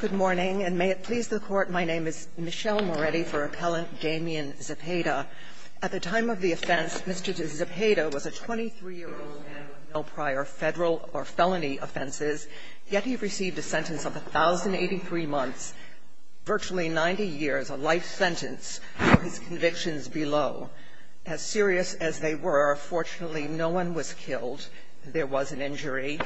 Good morning, and may it please the Court, my name is Michelle Moretti for Appellant Damien Zepeda. At the time of the offense, Mr. Zepeda was a 23-year-old man with no prior federal or felony offenses, yet he received a sentence of 1,083 months, virtually 90 years, a life sentence for his convictions below. As serious as they were, fortunately, no one was killed. There was an injury,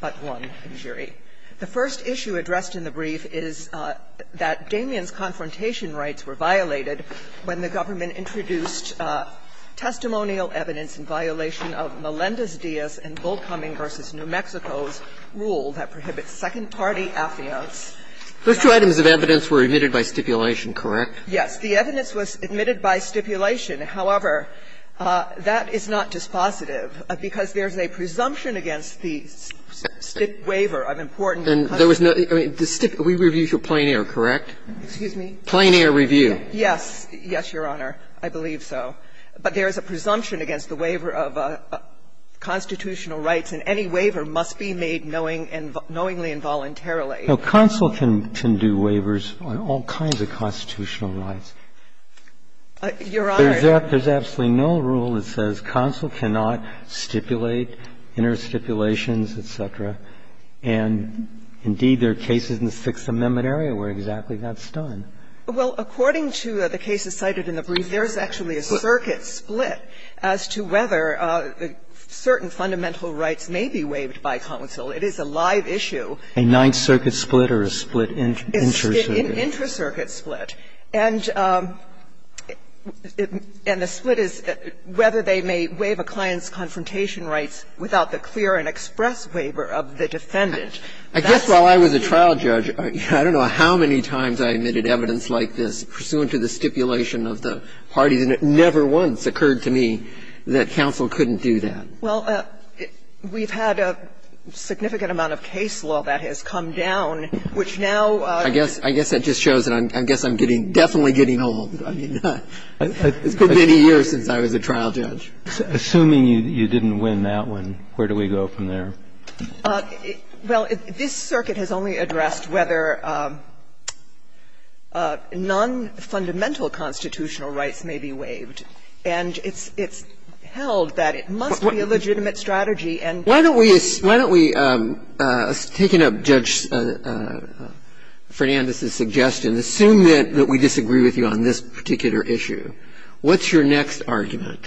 but one injury. The first issue addressed in the brief is that Damien's confrontation rights were violated when the government introduced testimonial evidence in violation of Melendez-Diaz and Bullcumming v. New Mexico's rule that prohibits second-party affiance. Those two items of evidence were admitted by stipulation, correct? Yes. The evidence was admitted by stipulation. However, that is not dispositive, because there's a presumption against the waiver of constitutional rights. rights. I'm not sure of the importance of the presumption. And there was no other. I mean, we reviewed your plein air, correct? Excuse me? Plein air review. Yes. Yes, Your Honor. I believe so. But there is a presumption against the waiver of constitutional rights, and any waiver must be made knowingly and voluntarily. Now, counsel can do waivers on all kinds of constitutional rights. Your Honor. There's absolutely no rule that says counsel cannot stipulate interstitulations, et cetera. And indeed, there are cases in the Sixth Amendment area where exactly that's done. Well, according to the cases cited in the brief, there's actually a circuit split as to whether certain fundamental rights may be waived by counsel. It is a live issue. A Ninth Circuit split or a split intracircuit? An intracircuit split. And the split is whether they may waive a client's confrontation rights without the clear and express waiver of the defendant. I guess while I was a trial judge, I don't know how many times I admitted evidence like this pursuant to the stipulation of the parties, and it never once occurred to me that counsel couldn't do that. Well, we've had a significant amount of case law that has come down, which now ---- I guess that just shows that I guess I'm getting, definitely getting old. I mean, it's been many years since I was a trial judge. Assuming you didn't win that one, where do we go from there? Well, this circuit has only addressed whether non-fundamental constitutional rights may be waived, and it's held that it must be a legitimate strategy and ---- Why don't we assume that we disagree with you on this particular issue? What's your next argument?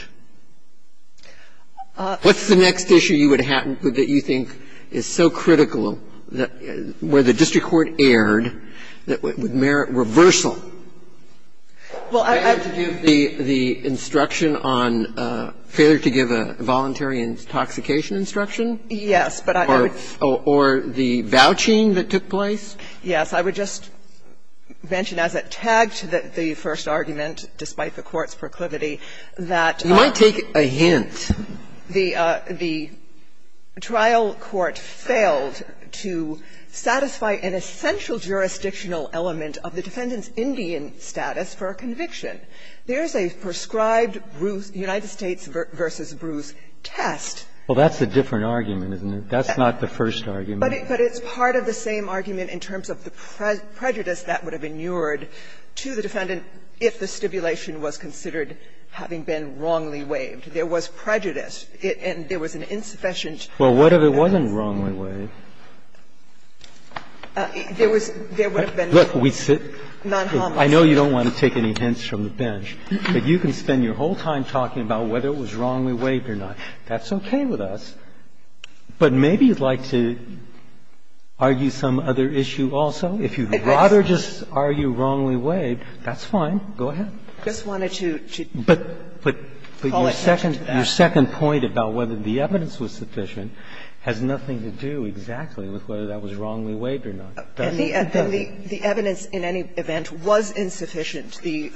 What's the next issue you would have that you think is so critical, where the district court erred, that would merit reversal? Well, I ---- You failed to give the instruction on ---- failed to give a voluntary intoxication instruction? Yes, but I would ---- Or the vouching that took place? Yes. I would just mention, as it tagged the first argument, despite the Court's proclivity, that ---- You might take a hint. The trial court failed to satisfy an essential jurisdictional element of the defendant's Indian status for a conviction. There's a prescribed Bruce ---- United States v. Bruce test. Well, that's a different argument, isn't it? That's not the first argument. But it's part of the same argument in terms of the prejudice that would have inured to the defendant if the stipulation was considered having been wrongly waived. There was prejudice, and there was an insufficient ---- Well, what if it wasn't wrongly waived? There was ---- There would have been non-homicide. I know you don't want to take any hints from the bench, but you can spend your whole time talking about whether it was wrongly waived or not. That's okay with us, but maybe you'd like to argue some other issue also. If you'd rather just argue wrongly waived, that's fine. Go ahead. I just wanted to call attention to that. But your second point about whether the evidence was sufficient has nothing to do exactly with whether that was wrongly waived or not. And the evidence in any event was insufficient. The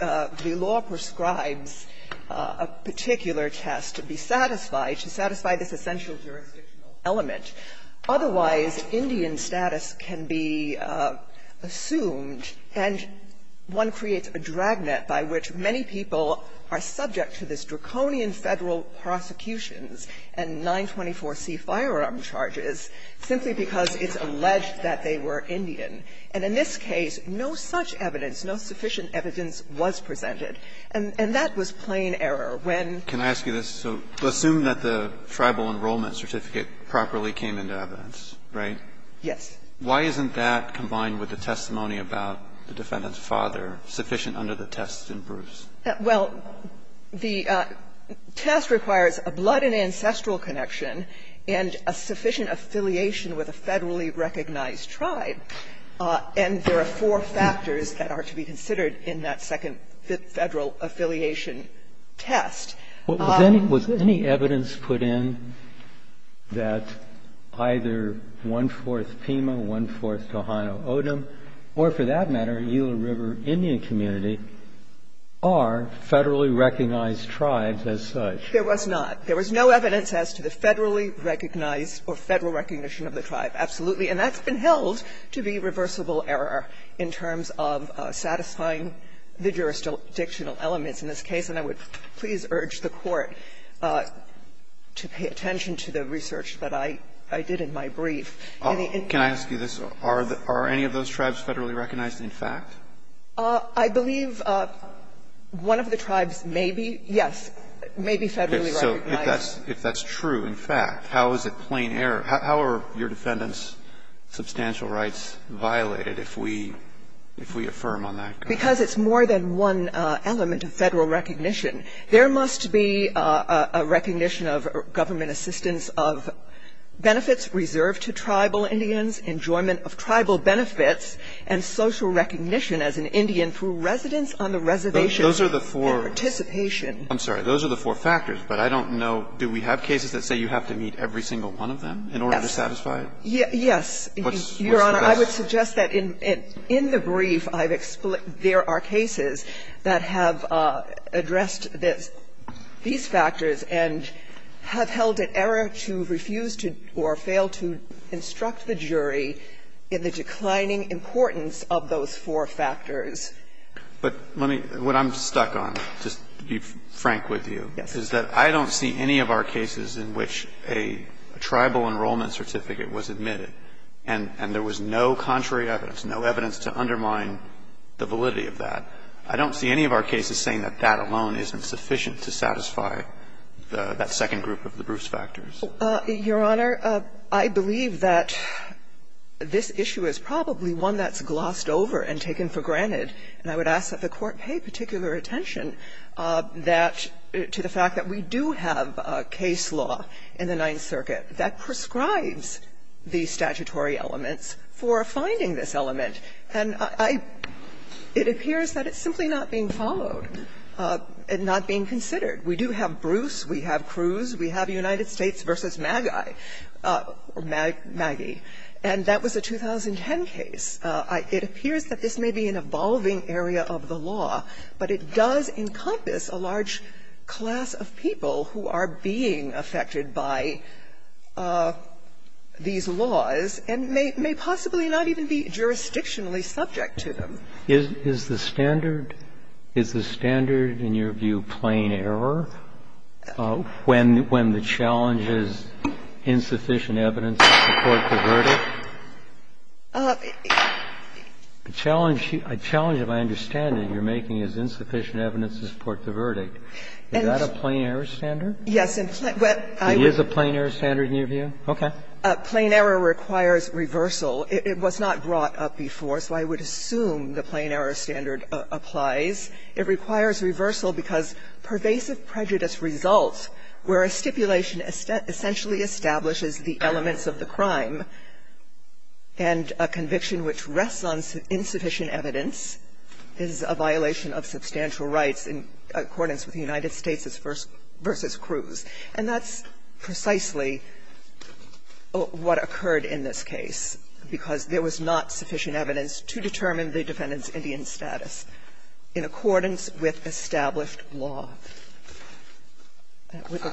law prescribes a particular test to be satisfied, to satisfy this essential jurisdictional element. Otherwise, Indian status can be assumed, and one creates a dragnet by which many people are subject to this draconian Federal prosecutions and 924C firearm charges simply because it's alleged that they were Indian. And in this case, no such evidence, no sufficient evidence was presented. And that was plain error. When ---- Can I ask you this? So assume that the tribal enrollment certificate properly came into evidence, right? Yes. Why isn't that combined with the testimony about the defendant's father sufficient under the test in Bruce? Well, the test requires a blood and ancestral connection and a sufficient affiliation with a Federally recognized tribe. And there are four factors that are to be considered in that second Federal affiliation test. Was any evidence put in that either one-fourth Pima, one-fourth Tohono O'odham, or for that matter, the Eeler River Indian community, are Federally recognized tribes as such? There was not. There was no evidence as to the Federally recognized or Federal recognition of the tribe, absolutely. And that's been held to be reversible error in terms of satisfying the jurisdictional elements in this case. And I would please urge the Court to pay attention to the research that I did in my brief. Can I ask you this? Are any of those tribes Federally recognized in fact? I believe one of the tribes may be, yes, may be Federally recognized. So if that's true, in fact, how is it plain error? How are your defendant's substantial rights violated if we affirm on that? Because it's more than one element of Federal recognition. There must be a recognition of government assistance of benefits reserved to tribal Indians, enjoyment of tribal benefits, and social recognition as an Indian for residence on the reservation and participation. Those are the four factors. But I don't know, do we have cases that say you have to meet every single one of them in order to satisfy it? Yes. Your Honor, I would suggest that in the brief I've explained, there are cases that have addressed these factors and have held it error to refuse to or fail to instruct the jury in the declining importance of those four factors. But let me – what I'm stuck on, just to be frank with you, is that I don't see any of our cases in which a tribal enrollment certificate was admitted and there was no contrary evidence, no evidence to undermine the validity of that. I don't see any of our cases saying that that alone isn't sufficient to satisfy that second group of the Bruce factors. Your Honor, I believe that this issue is probably one that's glossed over and taken for granted, and I would ask that the Court pay particular attention that – to the fact that we do have a case law in the Ninth Circuit that prescribes the statutory elements for finding this element. And I – it appears that it's simply not being followed and not being considered. We do have Bruce, we have Cruz, we have United States v. Magi. And that was a 2010 case. It appears that this may be an evolving area of the law, but it does encompass a large class of people who are being affected by these laws and may possibly not even be jurisdictionally subject to them. Is the standard – is the standard, in your view, plain error when the challenge is insufficient evidence to support the verdict? The challenge – the challenge, if I understand it, you're making is insufficient evidence to support the verdict. Is that a plain error standard? Yes, in – well, I would – Is it a plain error standard in your view? Okay. Plain error requires reversal. It was not brought up before, so I would assume the plain error standard applies. It requires reversal because pervasive prejudice results where a stipulation essentially establishes the elements of the crime and a conviction which rests on insufficient evidence is a violation of substantial rights in accordance with the United States v. Cruz. And that's precisely what occurred in this case, because there was not sufficient evidence to determine the defendant's Indian status in accordance with established law.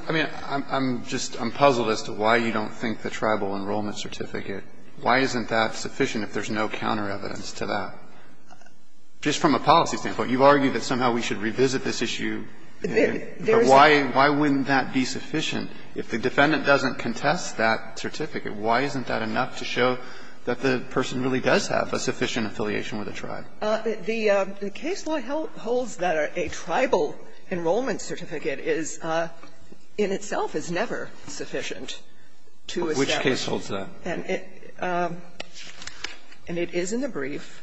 I mean, I'm just – I'm puzzled as to why you don't think the tribal enrollment certificate, why isn't that sufficient if there's no counter evidence to that? Just from a policy standpoint, you argue that somehow we should revisit this issue. There is a – But why wouldn't that be sufficient if the defendant doesn't contest that certificate? Why isn't that enough to show that the person really does have a sufficient affiliation with a tribe? The case law holds that a tribal enrollment certificate is, in itself, is never sufficient to establish. Which case holds that? And it is in the brief.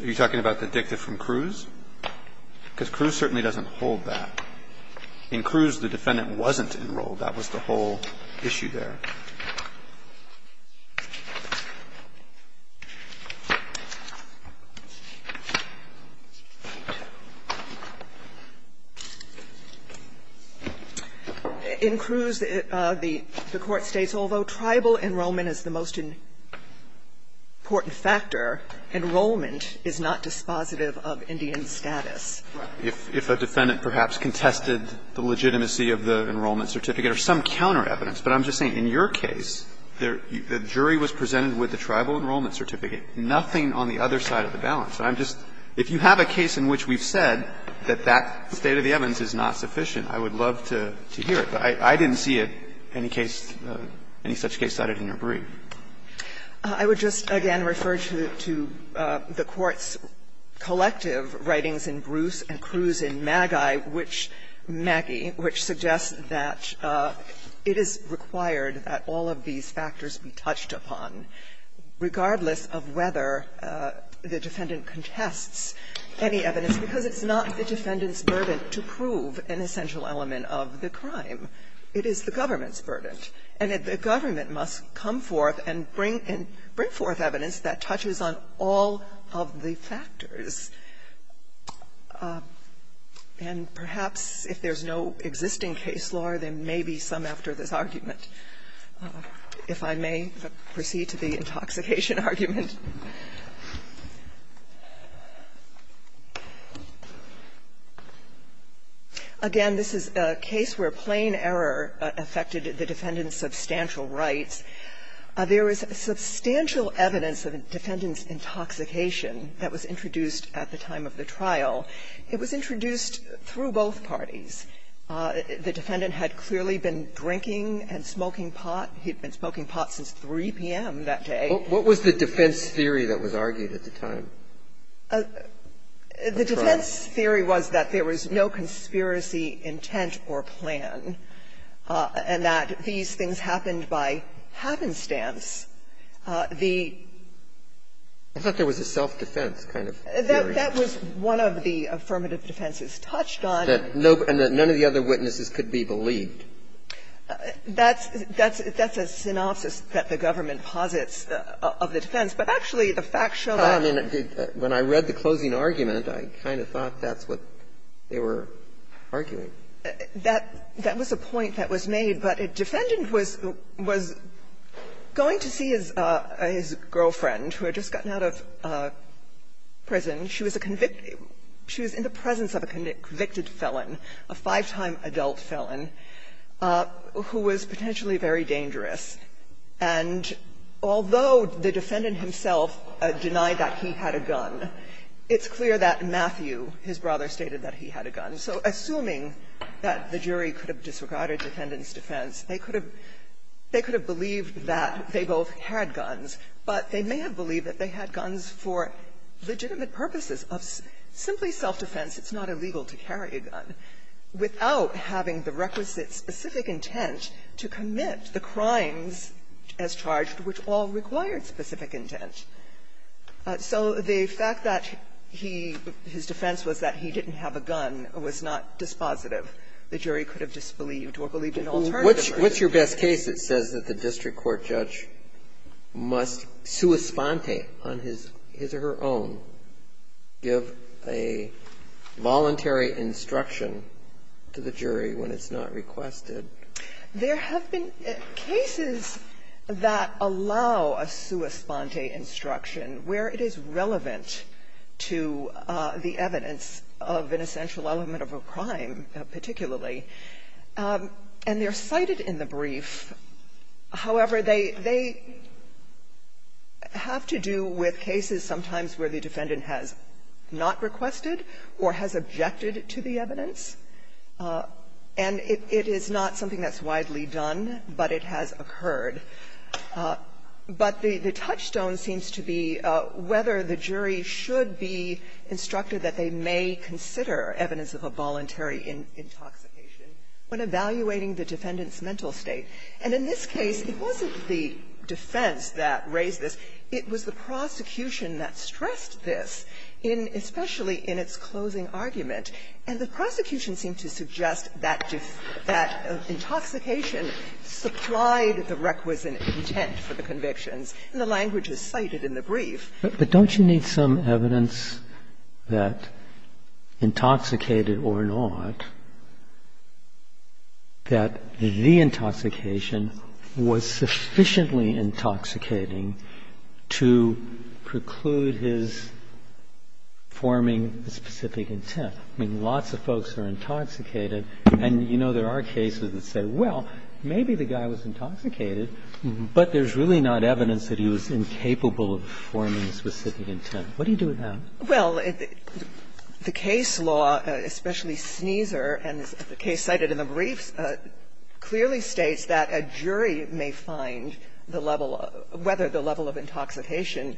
Are you talking about the dicta from Cruz? Because Cruz certainly doesn't hold that. In Cruz, the defendant wasn't enrolled. That was the whole issue there. In Cruz, the court states, although tribal enrollment is the most important factor, enrollment is not dispositive of Indian status. If a defendant perhaps contested the legitimacy of the enrollment certificate or some counter evidence. But I'm just saying, in your case, the jury was presented with the tribal enrollment certificate, nothing on the other side of the balance. And I'm just – if you have a case in which we've said that that state of the evidence is not sufficient, I would love to hear it. But I didn't see it, any case, any such case cited in your brief. I would just again refer to the Court's collective writings in Bruce and Cruz in Magi, which suggest that it is required that all of these factors be touched upon, regardless of whether the defendant contests any evidence, because it's not the defendant's burden to prove an essential element of the crime. It is the government's burden, and the government must come forth and bring forth evidence that touches on all of the factors. And perhaps if there's no existing case law, there may be some after this argument, if I may proceed to the intoxication argument. Again, this is a case where plain error affected the defendant's substantial rights. There is substantial evidence of a defendant's intoxication that was introduced at the time of the trial. It was introduced through both parties. The defendant had clearly been drinking and smoking pot. He had been smoking pot since 3 p.m. that day. Breyer, what was the defense theory that was argued at the time? The defense theory was that there was no conspiracy intent or plan, and that these things happened by happenstance. The ---- I thought there was a self-defense kind of theory. That was one of the affirmative defenses touched on. And that none of the other witnesses could be believed. That's a synopsis that the government posits of the defense. But actually, the fact showed up. When I read the closing argument, I kind of thought that's what they were arguing. That was a point that was made, but a defendant was going to see his girlfriend who had just gotten out of prison. She was a convicted ---- she was in the presence of a convicted felon, a five-time adult felon, who was potentially very dangerous. And although the defendant himself denied that he had a gun, it's clear that Matthew, his brother, stated that he had a gun. So assuming that the jury could have disregarded the defendant's defense, they could have ---- they could have believed that they both had guns, but they may have believed that they had guns for legitimate purposes of simply self-defense. It's not illegal to carry a gun without having the requisite specific intent to commit the crimes as charged, which all required specific intent. So the fact that he ---- his defense was that he didn't have a gun was not dispositive. The jury could have disbelieved or believed an alternative. Breyer. What's your best case that says that the district court judge must sua sponte on his or her own give a voluntary instruction to the jury when it's not requested? There have been cases that allow a sua sponte instruction where it is relevant to the evidence of an essential element of a crime particularly. And they're cited in the brief. However, they have to do with cases sometimes where the defendant has not requested or has objected to the evidence, and it is not something that's widely done, but it has occurred. But the touchstone seems to be whether the jury should be instructed that they may consider evidence of a voluntary intoxication when evaluating the defendant's mental state. And in this case, it wasn't the defense that raised this. It was the prosecution that stressed this in ---- especially in its closing argument. And the prosecution seemed to suggest that intoxication supplied the requisite intent for the convictions, and the language is cited in the brief. But don't you need some evidence that intoxicated or not, that the intoxication was sufficiently intoxicating to preclude his forming a specific intent? I mean, lots of folks are intoxicated, and you know there are cases that say, well, maybe the guy was intoxicated, but there's really not evidence that he was incapable of forming a specific intent. What do you do with that? Well, the case law, especially Sneezer, and the case cited in the brief, clearly states that a jury may find the level of ---- whether the level of intoxication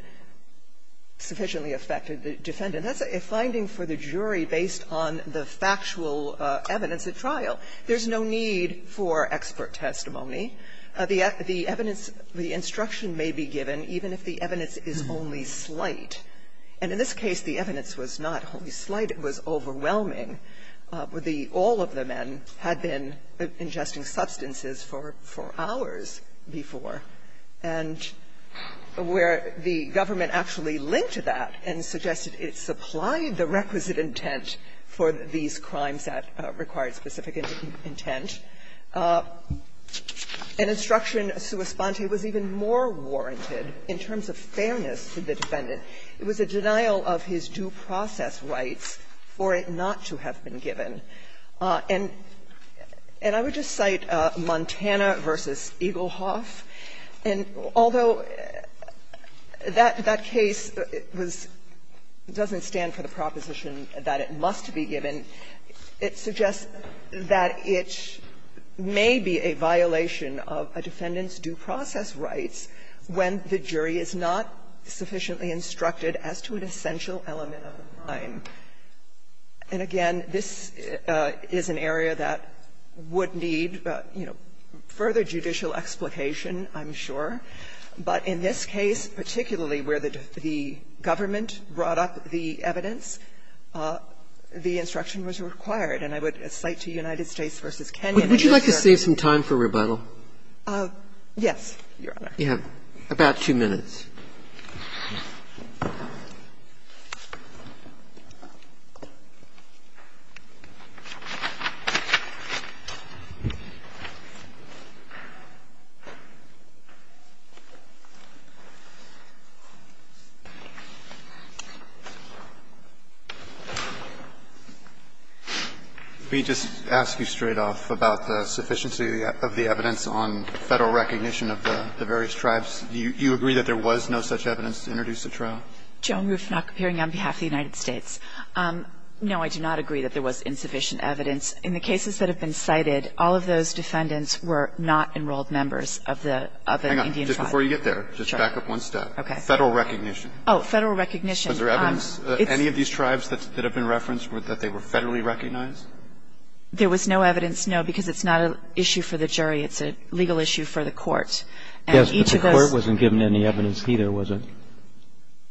sufficiently affected the defendant. That's a finding for the jury based on the factual evidence at trial. There's no need for expert testimony. The evidence, the instruction may be given even if the evidence is only slight. And in this case, the evidence was not only slight, it was overwhelming. All of the men had been ingesting substances for hours before, and where the government actually linked to that and suggested it supplied the requisite intent for these crimes that required specific intent. An instruction, sua sponte, was even more warranted in terms of fairness to the defendant. It was a denial of his due process rights for it not to have been given. And I would just cite Montana v. Eaglehoff. And although that case was ---- doesn't stand for the proposition that it must be given, it suggests that it may be a violation of a defendant's due process rights when the evidence was instructed as to an essential element of the crime. And again, this is an area that would need, you know, further judicial explication, I'm sure. But in this case, particularly where the government brought up the evidence, the instruction was required. And I would cite to United States v. Kenyon. I'm just sure ---- Roberts, would you like to save some time for rebuttal? Yes, Your Honor. You have about two minutes. Let me just ask you straight off about the sufficiency of the evidence on Federal recognition of the various tribes. Do you agree that there was no such evidence to introduce a trial? Joan Rufnack, appearing on behalf of the United States. No, I do not agree that there was insufficient evidence. In the cases that have been cited, all of those defendants were not enrolled members of the Indian tribe. Hang on. Just before you get there, just back up one step. Okay. Federal recognition. Oh, Federal recognition. Was there evidence of any of these tribes that have been referenced that they were Federally recognized? It's a legal issue for the court. And each of those ---- Yes, but the court wasn't given any evidence either, was it?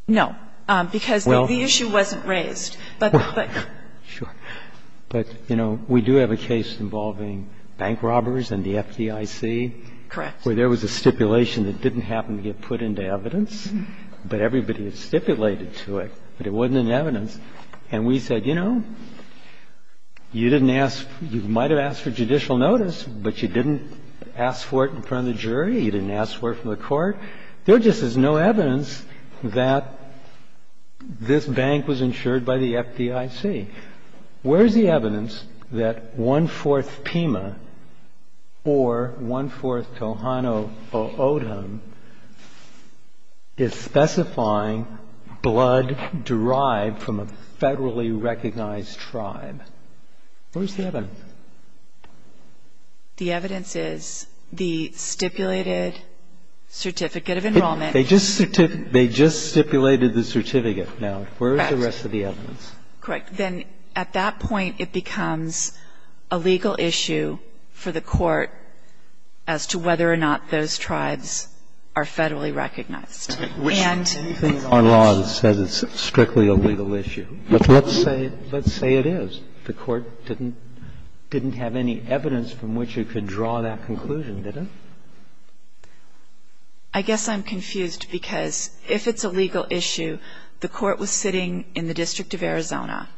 No. Because the issue wasn't raised. But the ---- Sure. But, you know, we do have a case involving bank robbers and the FDIC. Correct. Where there was a stipulation that didn't happen to get put into evidence, but everybody had stipulated to it, but it wasn't in evidence. And we said, you know, you didn't ask ---- you might have asked for judicial notice, but you didn't ask for it in front of the jury, you didn't ask for it from the court. There just is no evidence that this bank was insured by the FDIC. Where is the evidence that one-fourth Pima or one-fourth Tohono O'odham is specifying blood derived from a Federally recognized tribe? Where is the evidence? The evidence is the stipulated certificate of enrollment. They just stipulated the certificate. Now, where is the rest of the evidence? Correct. Then at that point, it becomes a legal issue for the court as to whether or not those tribes are Federally recognized. And ---- Which we think in our law it says it's strictly a legal issue. But let's say ---- let's say it is. The court didn't have any evidence from which you could draw that conclusion, did it? I guess I'm confused, because if it's a legal issue, the court was sitting in the District of Arizona.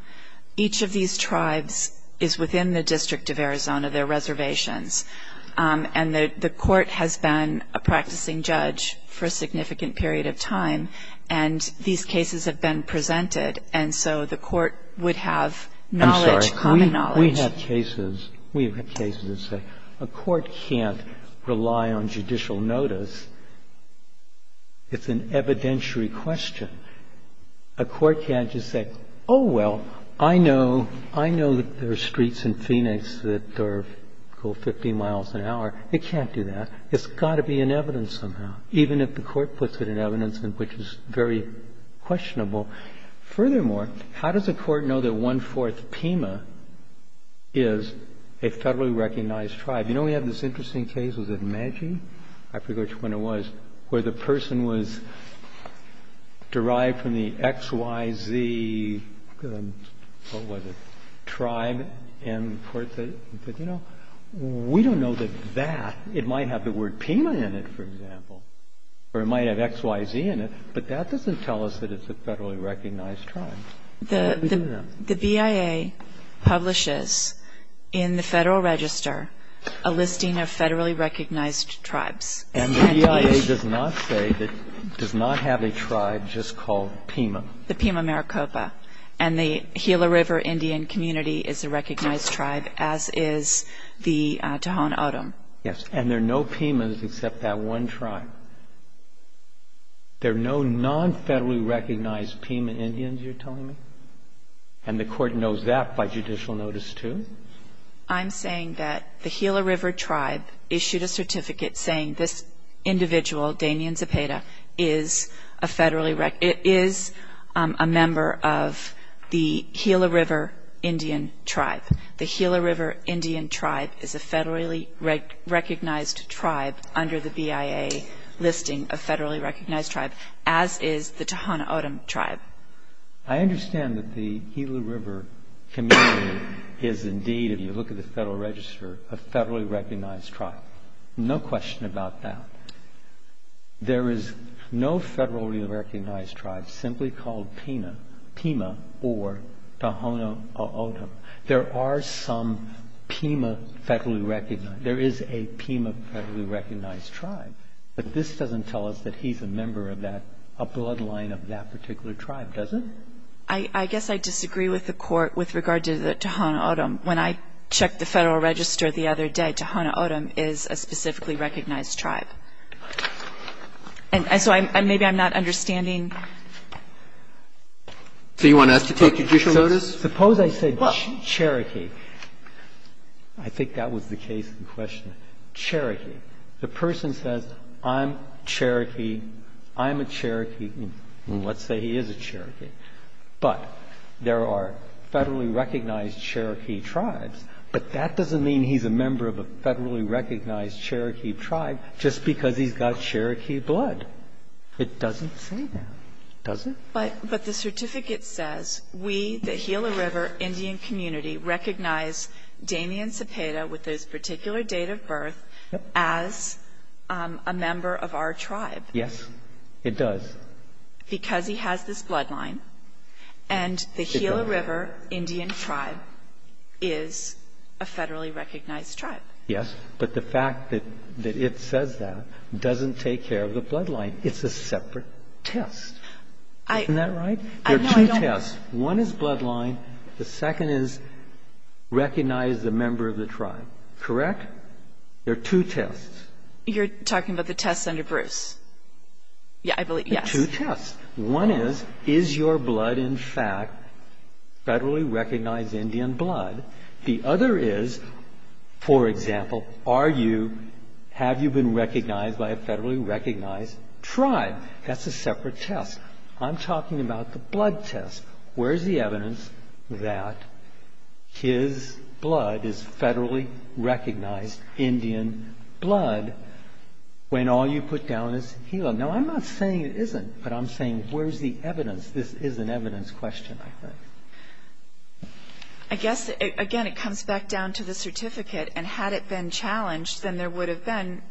Each of these tribes is within the District of Arizona, their reservations. And the court has been a practicing judge for a significant period of time, and these cases have been presented. And so the court would have knowledge, common knowledge. I'm sorry. We have cases ---- we have cases that say a court can't rely on judicial notice. It's an evidentiary question. A court can't just say, oh, well, I know ---- I know that there are streets in Phoenix that are, say, 50 miles an hour. It can't do that. It's got to be in evidence somehow. Even if the court puts it in evidence, which is very questionable. Furthermore, how does a court know that one-fourth Pima is a federally recognized tribe? You know, we have this interesting case, was it Medjie? I forget which one it was, where the person was derived from the XYZ, what was it, tribe, and the court said, you know, we don't know that that ---- it might have the Y in it, for example, or it might have XYZ in it, but that doesn't tell us that it's a federally recognized tribe. Let me do that. The BIA publishes in the Federal Register a listing of federally recognized tribes. And the BIA does not say that ---- does not have a tribe just called Pima. The Pima Maricopa. And the Gila River Indian community is a recognized tribe, as is the Tohon O'odham. Yes. And there are no Pimas except that one tribe. There are no non-federally recognized Pima Indians, you're telling me? And the court knows that by judicial notice, too? I'm saying that the Gila River tribe issued a certificate saying this individual, Damien Zepeda, is a federally ---- is a member of the Gila River Indian tribe. The Gila River Indian tribe is a federally recognized tribe under the BIA listing of federally recognized tribe, as is the Tohon O'odham tribe. I understand that the Gila River community is indeed, if you look at the Federal Register, a federally recognized tribe. No question about that. There is no federally recognized tribe simply called Pima or Tohon O'odham. There are some Pima federally recognized. There is a Pima federally recognized tribe. But this doesn't tell us that he's a member of that, a bloodline of that particular tribe, does it? I guess I disagree with the court with regard to the Tohon O'odham. When I checked the Federal Register the other day, Tohon O'odham is a specifically recognized tribe. And so maybe I'm not understanding. So you want us to take judicial notice? Suppose I said Cherokee. I think that was the case in question. Cherokee. The person says, I'm Cherokee, I'm a Cherokee, and let's say he is a Cherokee. But there are federally recognized Cherokee tribes. But that doesn't mean he's a member of a federally recognized Cherokee tribe just because he's got Cherokee blood. It doesn't say that, does it? But the certificate says, we, the Gila River Indian community, recognize Damien Cepeda with this particular date of birth as a member of our tribe. Yes, it does. Because he has this bloodline. And the Gila River Indian tribe is a federally recognized tribe. Yes, but the fact that it says that doesn't take care of the bloodline. It's a separate test. Isn't that right? There are two tests. One is bloodline. The second is recognize the member of the tribe. Correct? There are two tests. You're talking about the tests under Bruce. Yeah, I believe, yes. Two tests. One is, is your blood in fact federally recognized Indian blood? The other is, for example, are you, have you been recognized by a federally recognized tribe? That's a separate test. I'm talking about the blood test. Where's the evidence that his blood is federally recognized Indian blood when all you put down is Gila? Now, I'm not saying it isn't, but I'm saying, where's the evidence? This is an evidence question, I think. I guess, again, it comes back down to the certificate. And had it been challenged, then there would have been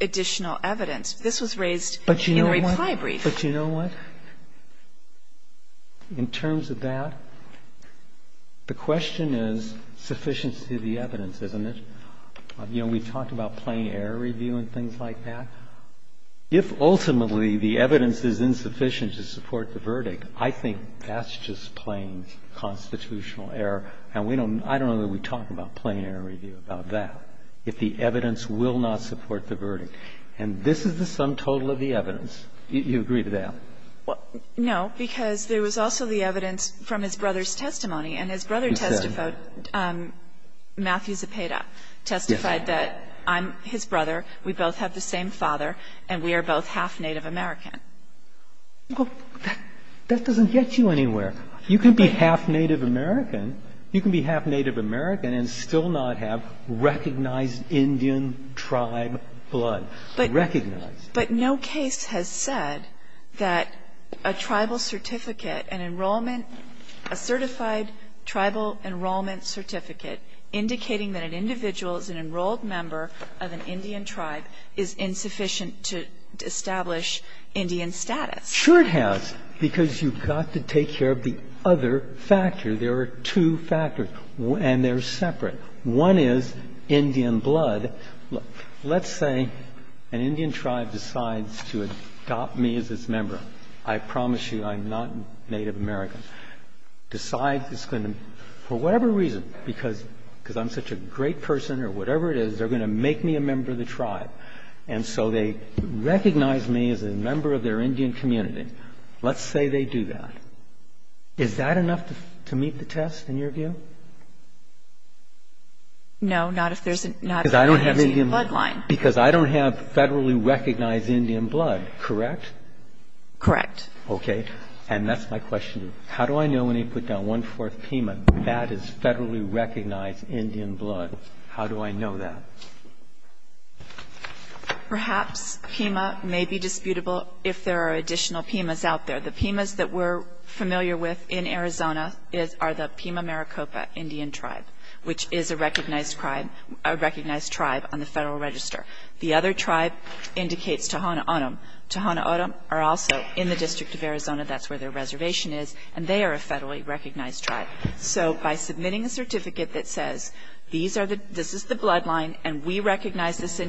additional evidence. This was raised in the reply brief. But you know what? In terms of that, the question is sufficiency of the evidence, isn't it? You know, we talked about plain error review and things like that. If ultimately the evidence is insufficient to support the verdict, I think that's just plain constitutional error. And we don't, I don't know that we talk about plain error review about that, if the evidence will not support the verdict. And this is the sum total of the evidence. You agree to that? No, because there was also the evidence from his brother's testimony. And his brother testified, Matthew Zepeda testified that I'm his brother, we both have the same father, and we are both half Native American. That doesn't get you anywhere. You can be half Native American. You can be half Native American and still not have recognized Indian tribe blood. Recognized. But no case has said that a tribal certificate, an enrollment, a certified tribal enrollment certificate indicating that an individual is an enrolled member of an Indian tribe is insufficient to establish Indian status. Sure it has, because you've got to take care of the other factor. There are two factors, and they're separate. One is Indian blood. Let's say an Indian tribe decides to adopt me as its member. I promise you I'm not Native American. Decides it's going to, for whatever reason, because I'm such a great person or whatever it is, they're going to make me a member of the tribe. And so they recognize me as a member of their Indian community. Let's say they do that. Is that enough to meet the test, in your view? No, not if there's not an Indian blood line. Because I don't have federally recognized Indian blood, correct? Correct. Okay. And that's my question. How do I know when you put down one-fourth PEMA that is federally recognized Indian blood? How do I know that? Perhaps PEMA may be disputable if there are additional PEMAs out there. The PEMAs that we're familiar with in Arizona are the PEMA Maricopa Indian tribe, which is a recognized tribe on the Federal Register. The other tribe indicates Tohono O'odham. Tohono O'odham are also in the District of Arizona. That's where their reservation is. And they are a federally recognized tribe. So by submitting a certificate that says, this is the bloodline, and we recognize this I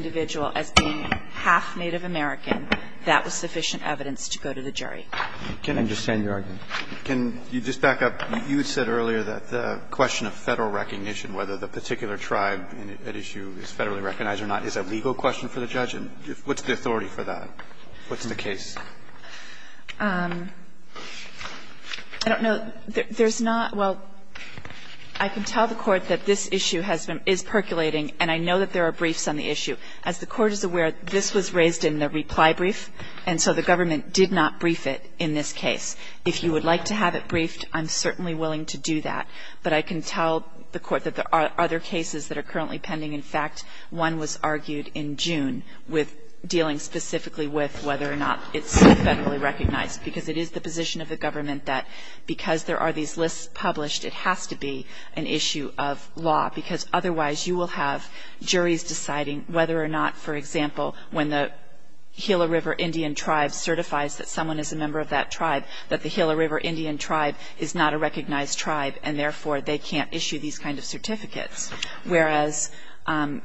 can understand your argument. Can you just back up? You said earlier that the question of Federal recognition, whether the particular tribe at issue is federally recognized or not, is a legal question for the judge. What's the authority for that? What's the case? I don't know. There's not – well, I can tell the Court that this issue has been – is percolating, and I know that there are briefs on the issue. As the Court is aware, this was raised in the reply brief, and so the government did not brief it in this case. If you would like to have it briefed, I'm certainly willing to do that. But I can tell the Court that there are other cases that are currently pending. In fact, one was argued in June with dealing specifically with whether or not it's federally recognized, because it is the position of the government that because there are these lists published, it has to be an issue of law, because otherwise you will have juries deciding whether or not, for example, when the Gila River Indian tribe certifies that someone is a member of that tribe, that the Gila River Indian tribe is not a recognized tribe and, therefore, they can't issue these kind of certificates, whereas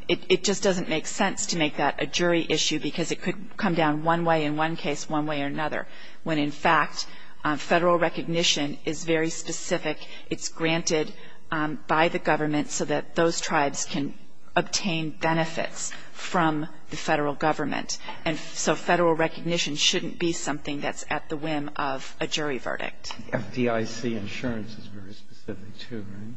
it just doesn't make sense to make that a jury issue, because it could come down one way in one case, one way or another, when, in fact, Federal recognition is very specific. It's granted by the government so that those tribes can obtain benefits from the Federal government. And so Federal recognition shouldn't be something that's at the whim of a jury verdict. FDIC insurance is very specific, too, right?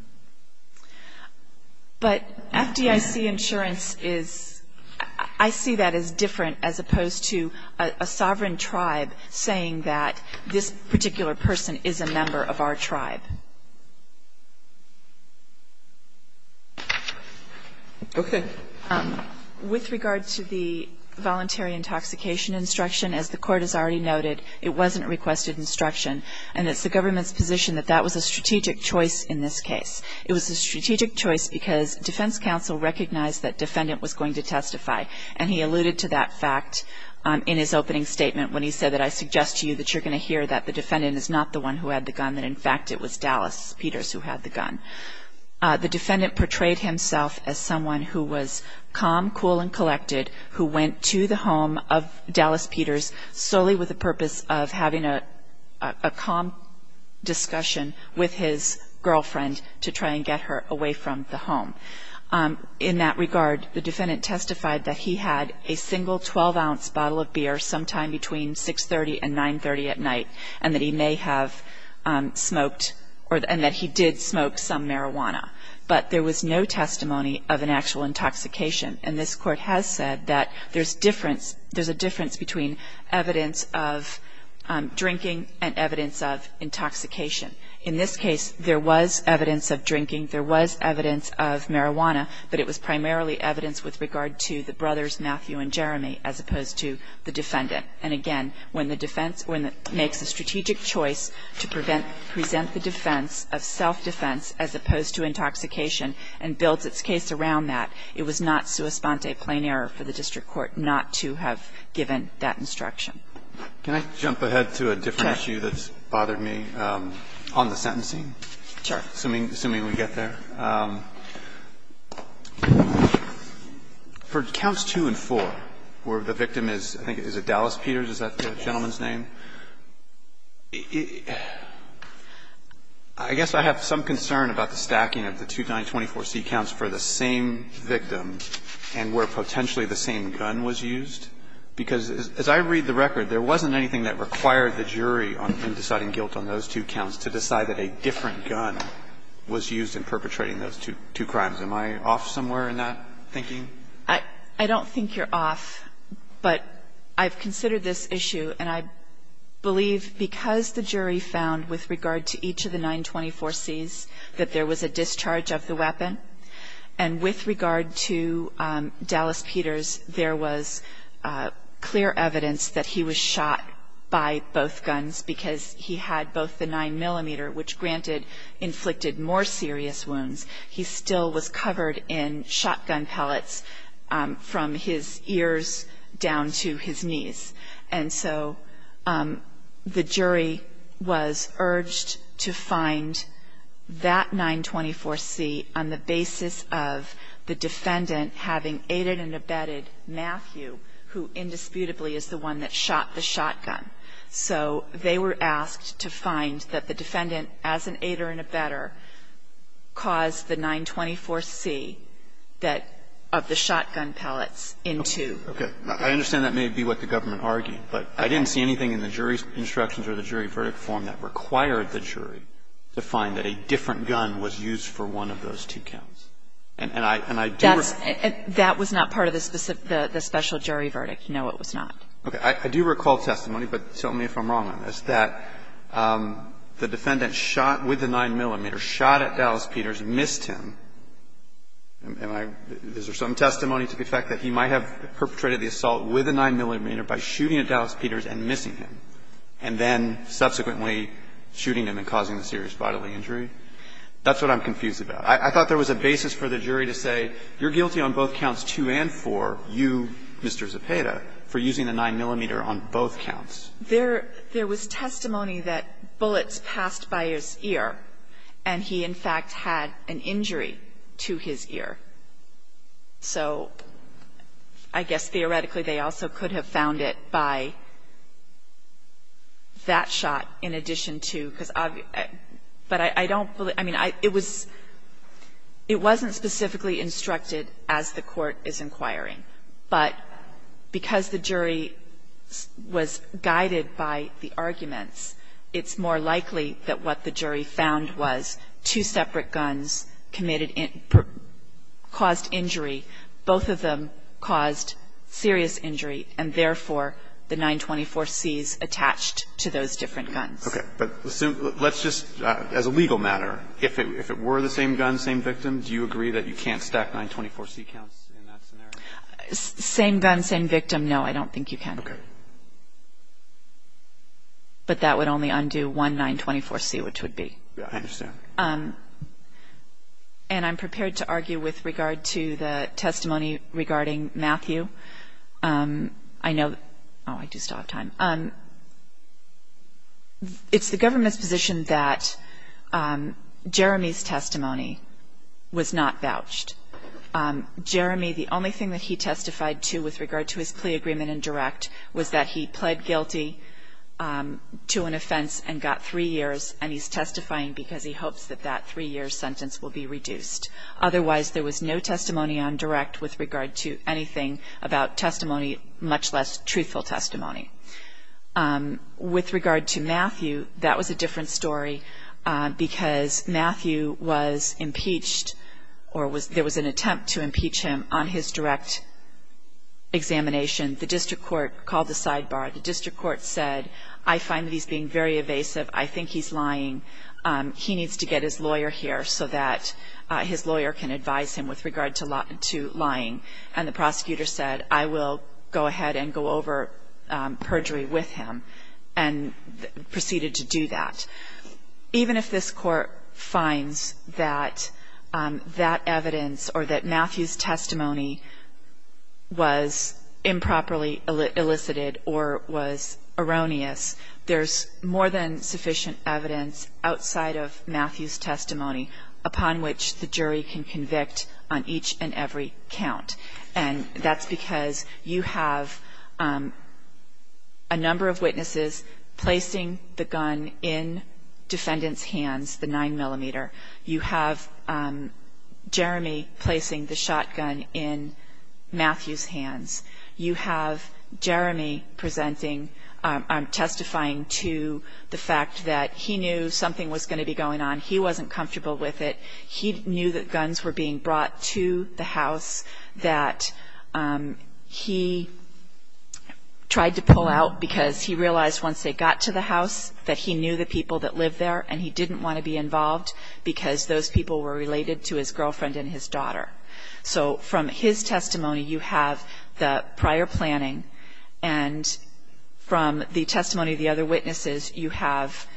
But FDIC insurance is – I see that as different as opposed to a sovereign tribe saying that this particular person is a member of our tribe. Okay. With regard to the voluntary intoxication instruction, as the Court has already noted, it wasn't requested instruction, and it's the government's position that that was a strategic choice in this case. It was a strategic choice because defense counsel recognized that defendant was going to testify, and he alluded to that fact in his opening statement when he said that, I suggest to you that you're going to hear that the defendant is not the one who had the gun, that, in fact, it was Dallas Peters who had the gun. The defendant portrayed himself as someone who was calm, cool, and collected, who went to the home of Dallas Peters solely with the purpose of having a calm discussion with his girlfriend to try and get her away from the home. In that regard, the defendant testified that he had a single 12-ounce bottle of beer sometime between 6.30 and 9.30 at night, and that he may have smoked – and that he did smoke some marijuana. But there was no testimony of an actual intoxication, and this Court has said that there's difference – there's a difference between evidence of drinking and evidence of intoxication. In this case, there was evidence of drinking, there was evidence of marijuana, but it was primarily evidence with regard to the brothers, Matthew and Jeremy, as opposed to the defendant. And again, when the defense – when it makes a strategic choice to prevent – present the defense of self-defense as opposed to intoxication and builds its case around that, it was not sua sponte plain error for the district court not to have given that instruction. Can I jump ahead to a different issue that's bothered me on the sentencing? Sure. Assuming we get there. For counts 2 and 4, where the victim is, I think, is it Dallas Peters? Is that the gentleman's name? I guess I have some concern about the stacking of the 2924C counts for the same victim and where potentially the same gun was used, because as I read the record, there wasn't anything that required the jury in deciding guilt on those two counts to decide that a different gun was used in perpetrating those two crimes. Am I off somewhere in that thinking? I don't think you're off, but I've considered this issue, and I believe because the jury found with regard to each of the 924Cs that there was a discharge of the weapon, and with regard to Dallas Peters, there was clear evidence that he was injured, which, granted, inflicted more serious wounds. He still was covered in shotgun pellets from his ears down to his knees. And so the jury was urged to find that 924C on the basis of the defendant having aided and abetted Matthew, who indisputably is the one that shot the shotgun. So they were asked to find that the defendant, as an aider and abetter, caused the 924C that of the shotgun pellets in two. Okay. I understand that may be what the government argued, but I didn't see anything in the jury's instructions or the jury verdict form that required the jury to find that a different gun was used for one of those two counts. And I do recall that. That was not part of the special jury verdict. No, it was not. Okay. I do recall testimony, but tell me if I'm wrong on this, that the defendant shot with a 9-millimeter, shot at Dallas Peters, missed him. Am I – is there some testimony to the fact that he might have perpetrated the assault with a 9-millimeter by shooting at Dallas Peters and missing him, and then subsequently shooting him and causing a serious bodily injury? That's what I'm confused about. I thought there was a basis for the jury to say, you're guilty on both counts 2 and 4, you, Mr. Zepeda, for using a 9-millimeter on both counts. There was testimony that bullets passed by his ear, and he, in fact, had an injury to his ear. So I guess theoretically, they also could have found it by that shot in addition to – because I've – but I don't believe – I mean, it was – it wasn't specifically instructed as the Court is inquiring. But because the jury was guided by the arguments, it's more likely that what the jury found was two separate guns committed – caused injury. Both of them caused serious injury, and therefore, the 924Cs attached to those different guns. Okay. But let's just – as a legal matter, if it were the same gun, same victim, do you agree that you can't stack 924C counts in that scenario? Same gun, same victim, no, I don't think you can. Okay. But that would only undo one 924C, which would be. Yeah, I understand. And I'm prepared to argue with regard to the testimony regarding Matthew. I know – oh, I do still have time. It's the government's position that Jeremy's testimony was not vouched. Jeremy, the only thing that he testified to with regard to his plea agreement in direct was that he pled guilty to an offense and got three years, and he's testifying because he hopes that that three-year sentence will be reduced. Otherwise, there was no testimony on direct with regard to anything about testimony, much less truthful testimony. With regard to Matthew, that was a different story because Matthew was impeached or there was an attempt to impeach him on his direct examination. The district court called the sidebar. The district court said, I find that he's being very evasive. I think he's lying. He needs to get his lawyer here so that his lawyer can advise him with regard to lying. And the prosecutor said, I will go ahead and go over perjury with him and proceeded to do that. Even if this court finds that that evidence or that Matthew's testimony was improperly elicited or was erroneous, there's more than sufficient evidence outside of Matthew's testimony upon which the jury can convict on each and every count. And that's because you have a number of witnesses placing the gun in defendant's hands, the 9-millimeter. You have Jeremy placing the shotgun in Matthew's hands. You have Jeremy presenting or testifying to the fact that he knew something was going to be going on. He wasn't comfortable with it. He knew that guns were being brought to the house, that he tried to pull out because he realized once they got to the house that he knew the people that lived there and he didn't want to be involved because those people were related to his girlfriend and his daughter. So from his testimony, you have the prior planning. And from the testimony of the other witnesses, you have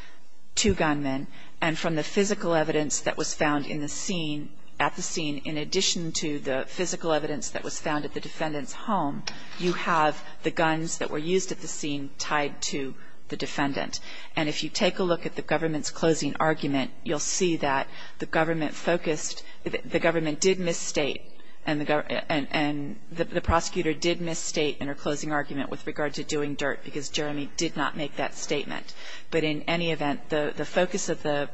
two gunmen. And from the physical evidence that was found in the scene, at the scene, in addition to the physical evidence that was found at the defendant's home, you have the guns that were used at the scene tied to the defendant. And if you take a look at the government's closing argument, you'll see that the government focused the government did misstate and the prosecutor did misstate in her closing argument with regard to doing dirt because Jeremy did not make that statement. But in any event, the focus of the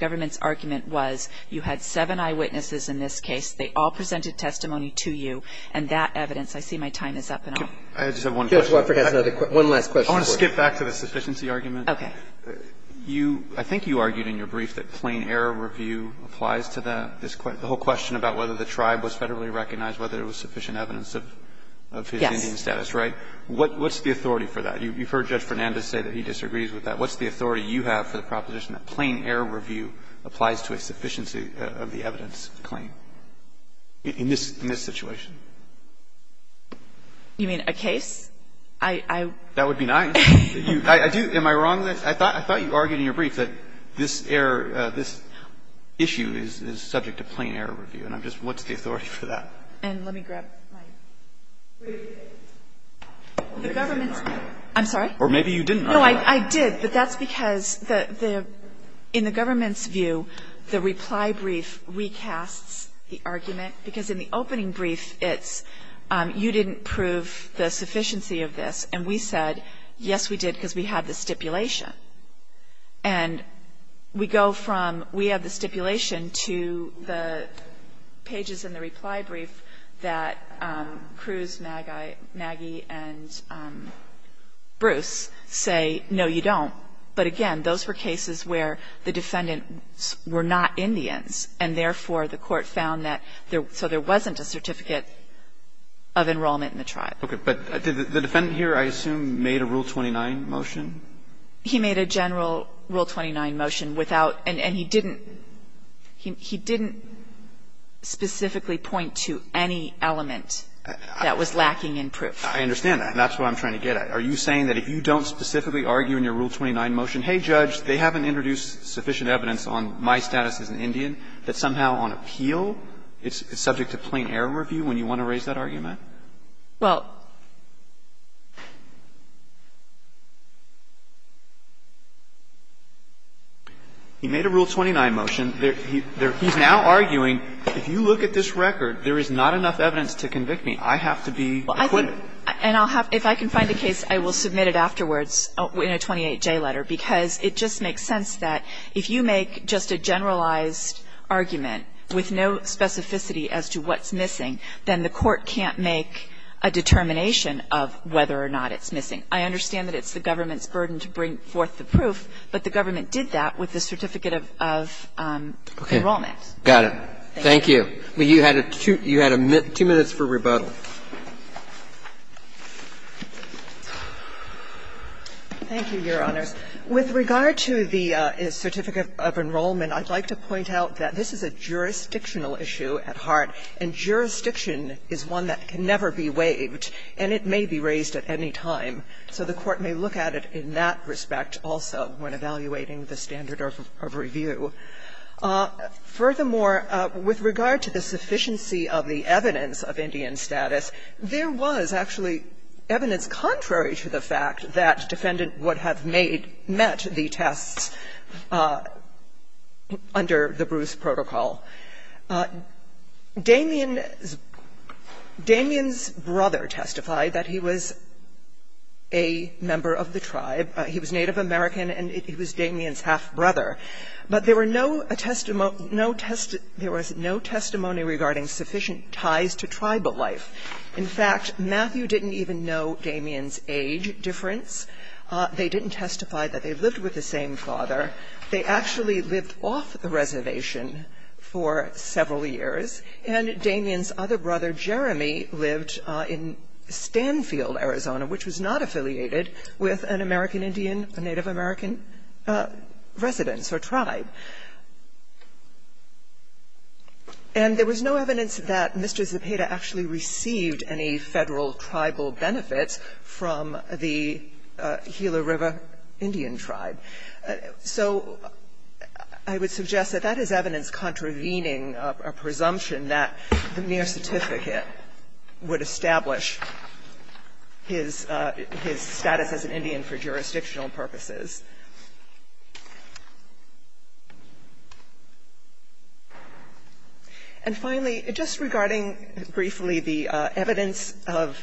government's argument was you had seven eyewitnesses in this case. They all presented testimony to you. And that evidence, I see my time is up. And I'll just have one question. Roberts. One last question. I want to skip back to the sufficiency argument. Okay. You – I think you argued in your brief that plain error review applies to the whole question about whether the tribe was federally recognized, whether there was sufficient evidence of his Indian status, right? What's the authority for that? You've heard Judge Fernandez say that he disagrees with that. What's the authority you have for the proposition that plain error review applies to a sufficiency of the evidence claim in this – in this situation? You mean a case? I – I – That would be nice. I do. Am I wrong? I thought you argued in your brief that this error, this issue is subject to plain error review. And I'm just – what's the authority for that? And let me grab my brief. The government's – I'm sorry? Or maybe you didn't argue. No, I did. But that's because the – in the government's view, the reply brief recasts the argument, because in the opening brief it's, you didn't prove the sufficiency of this. And we said, yes, we did, because we have the stipulation. And we go from we have the stipulation to the pages in the reply brief that Cruz, Maggie, and Bruce say, no, you don't. But again, those were cases where the defendants were not Indians, and therefore the court found that there – so there wasn't a certificate of enrollment in the tribe. Okay. But did the defendant here, I assume, made a Rule 29 motion? He made a general Rule 29 motion without – and he didn't – he didn't specifically point to any element that was lacking in proof. I understand that. And that's what I'm trying to get at. Are you saying that if you don't specifically argue in your Rule 29 motion, hey, Judge, they haven't introduced sufficient evidence on my status as an Indian, that somehow on appeal it's subject to plain error review when you want to raise that argument? Well – He made a Rule 29 motion. He's now arguing if you look at this record, there is not enough evidence to convict me. I have to be acquitted. And I'll have – if I can find a case, I will submit it afterwards in a 28J letter, because it just makes sense that if you make just a generalized argument with no specificity as to what's missing, then the court can't make a determination of whether or not it's missing. I understand that it's the government's burden to bring forth the proof, but the government did that with the certificate of enrollment. Okay. Got it. Thank you. You had two minutes for rebuttal. Thank you, Your Honors. With regard to the certificate of enrollment, I'd like to point out that this is a jurisdictional issue at heart, and jurisdiction is one that can never be waived, and it may be raised at any time. So the Court may look at it in that respect also when evaluating the standard of review. Furthermore, with regard to the sufficiency of the evidence of Indian status, there was actually evidence contrary to the fact that defendant would have made – met the tests under the Bruce protocol. Damien's brother testified that he was a member of the tribe. He was Native American, and he was Damien's half-brother. But there were no – there was no testimony regarding sufficient ties to tribal life. In fact, Matthew didn't even know Damien's age difference. They didn't testify that they lived with the same father. They actually lived off the reservation for several years. And Damien's other brother, Jeremy, lived in Stanfield, Arizona, which was not affiliated with an American Indian, a Native American residence or tribe. And there was no evidence that Mr. Zepeda actually received any Federal tribal benefits from the Gila River Indian tribe. So I would suggest that that is evidence contravening a presumption that the mere certificate would establish his – his status as an Indian for jurisdictional purposes. And finally, just regarding briefly the evidence of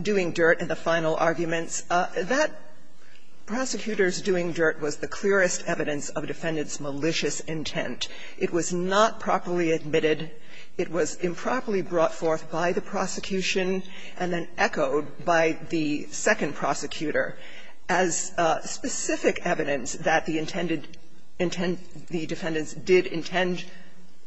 doing dirt in the final arguments, that prosecutor's doing dirt was the clearest evidence of a defendant's malicious intent. It was not properly admitted. It was improperly brought forth by the prosecution and then echoed by the second prosecutor as specific evidence that the intended – the defendants did intend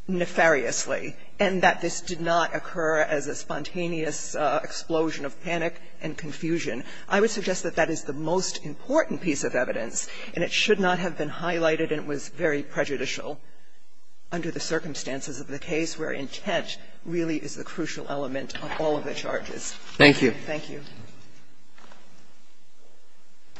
nefariously, and that this did not occur as a spontaneous explosion of panic and confusion. I would suggest that that is the most important piece of evidence, and it should not have been highlighted, and it was very prejudicial under the circumstances of the case where intent really is the crucial element of all of the charges. Thank you. Thank you.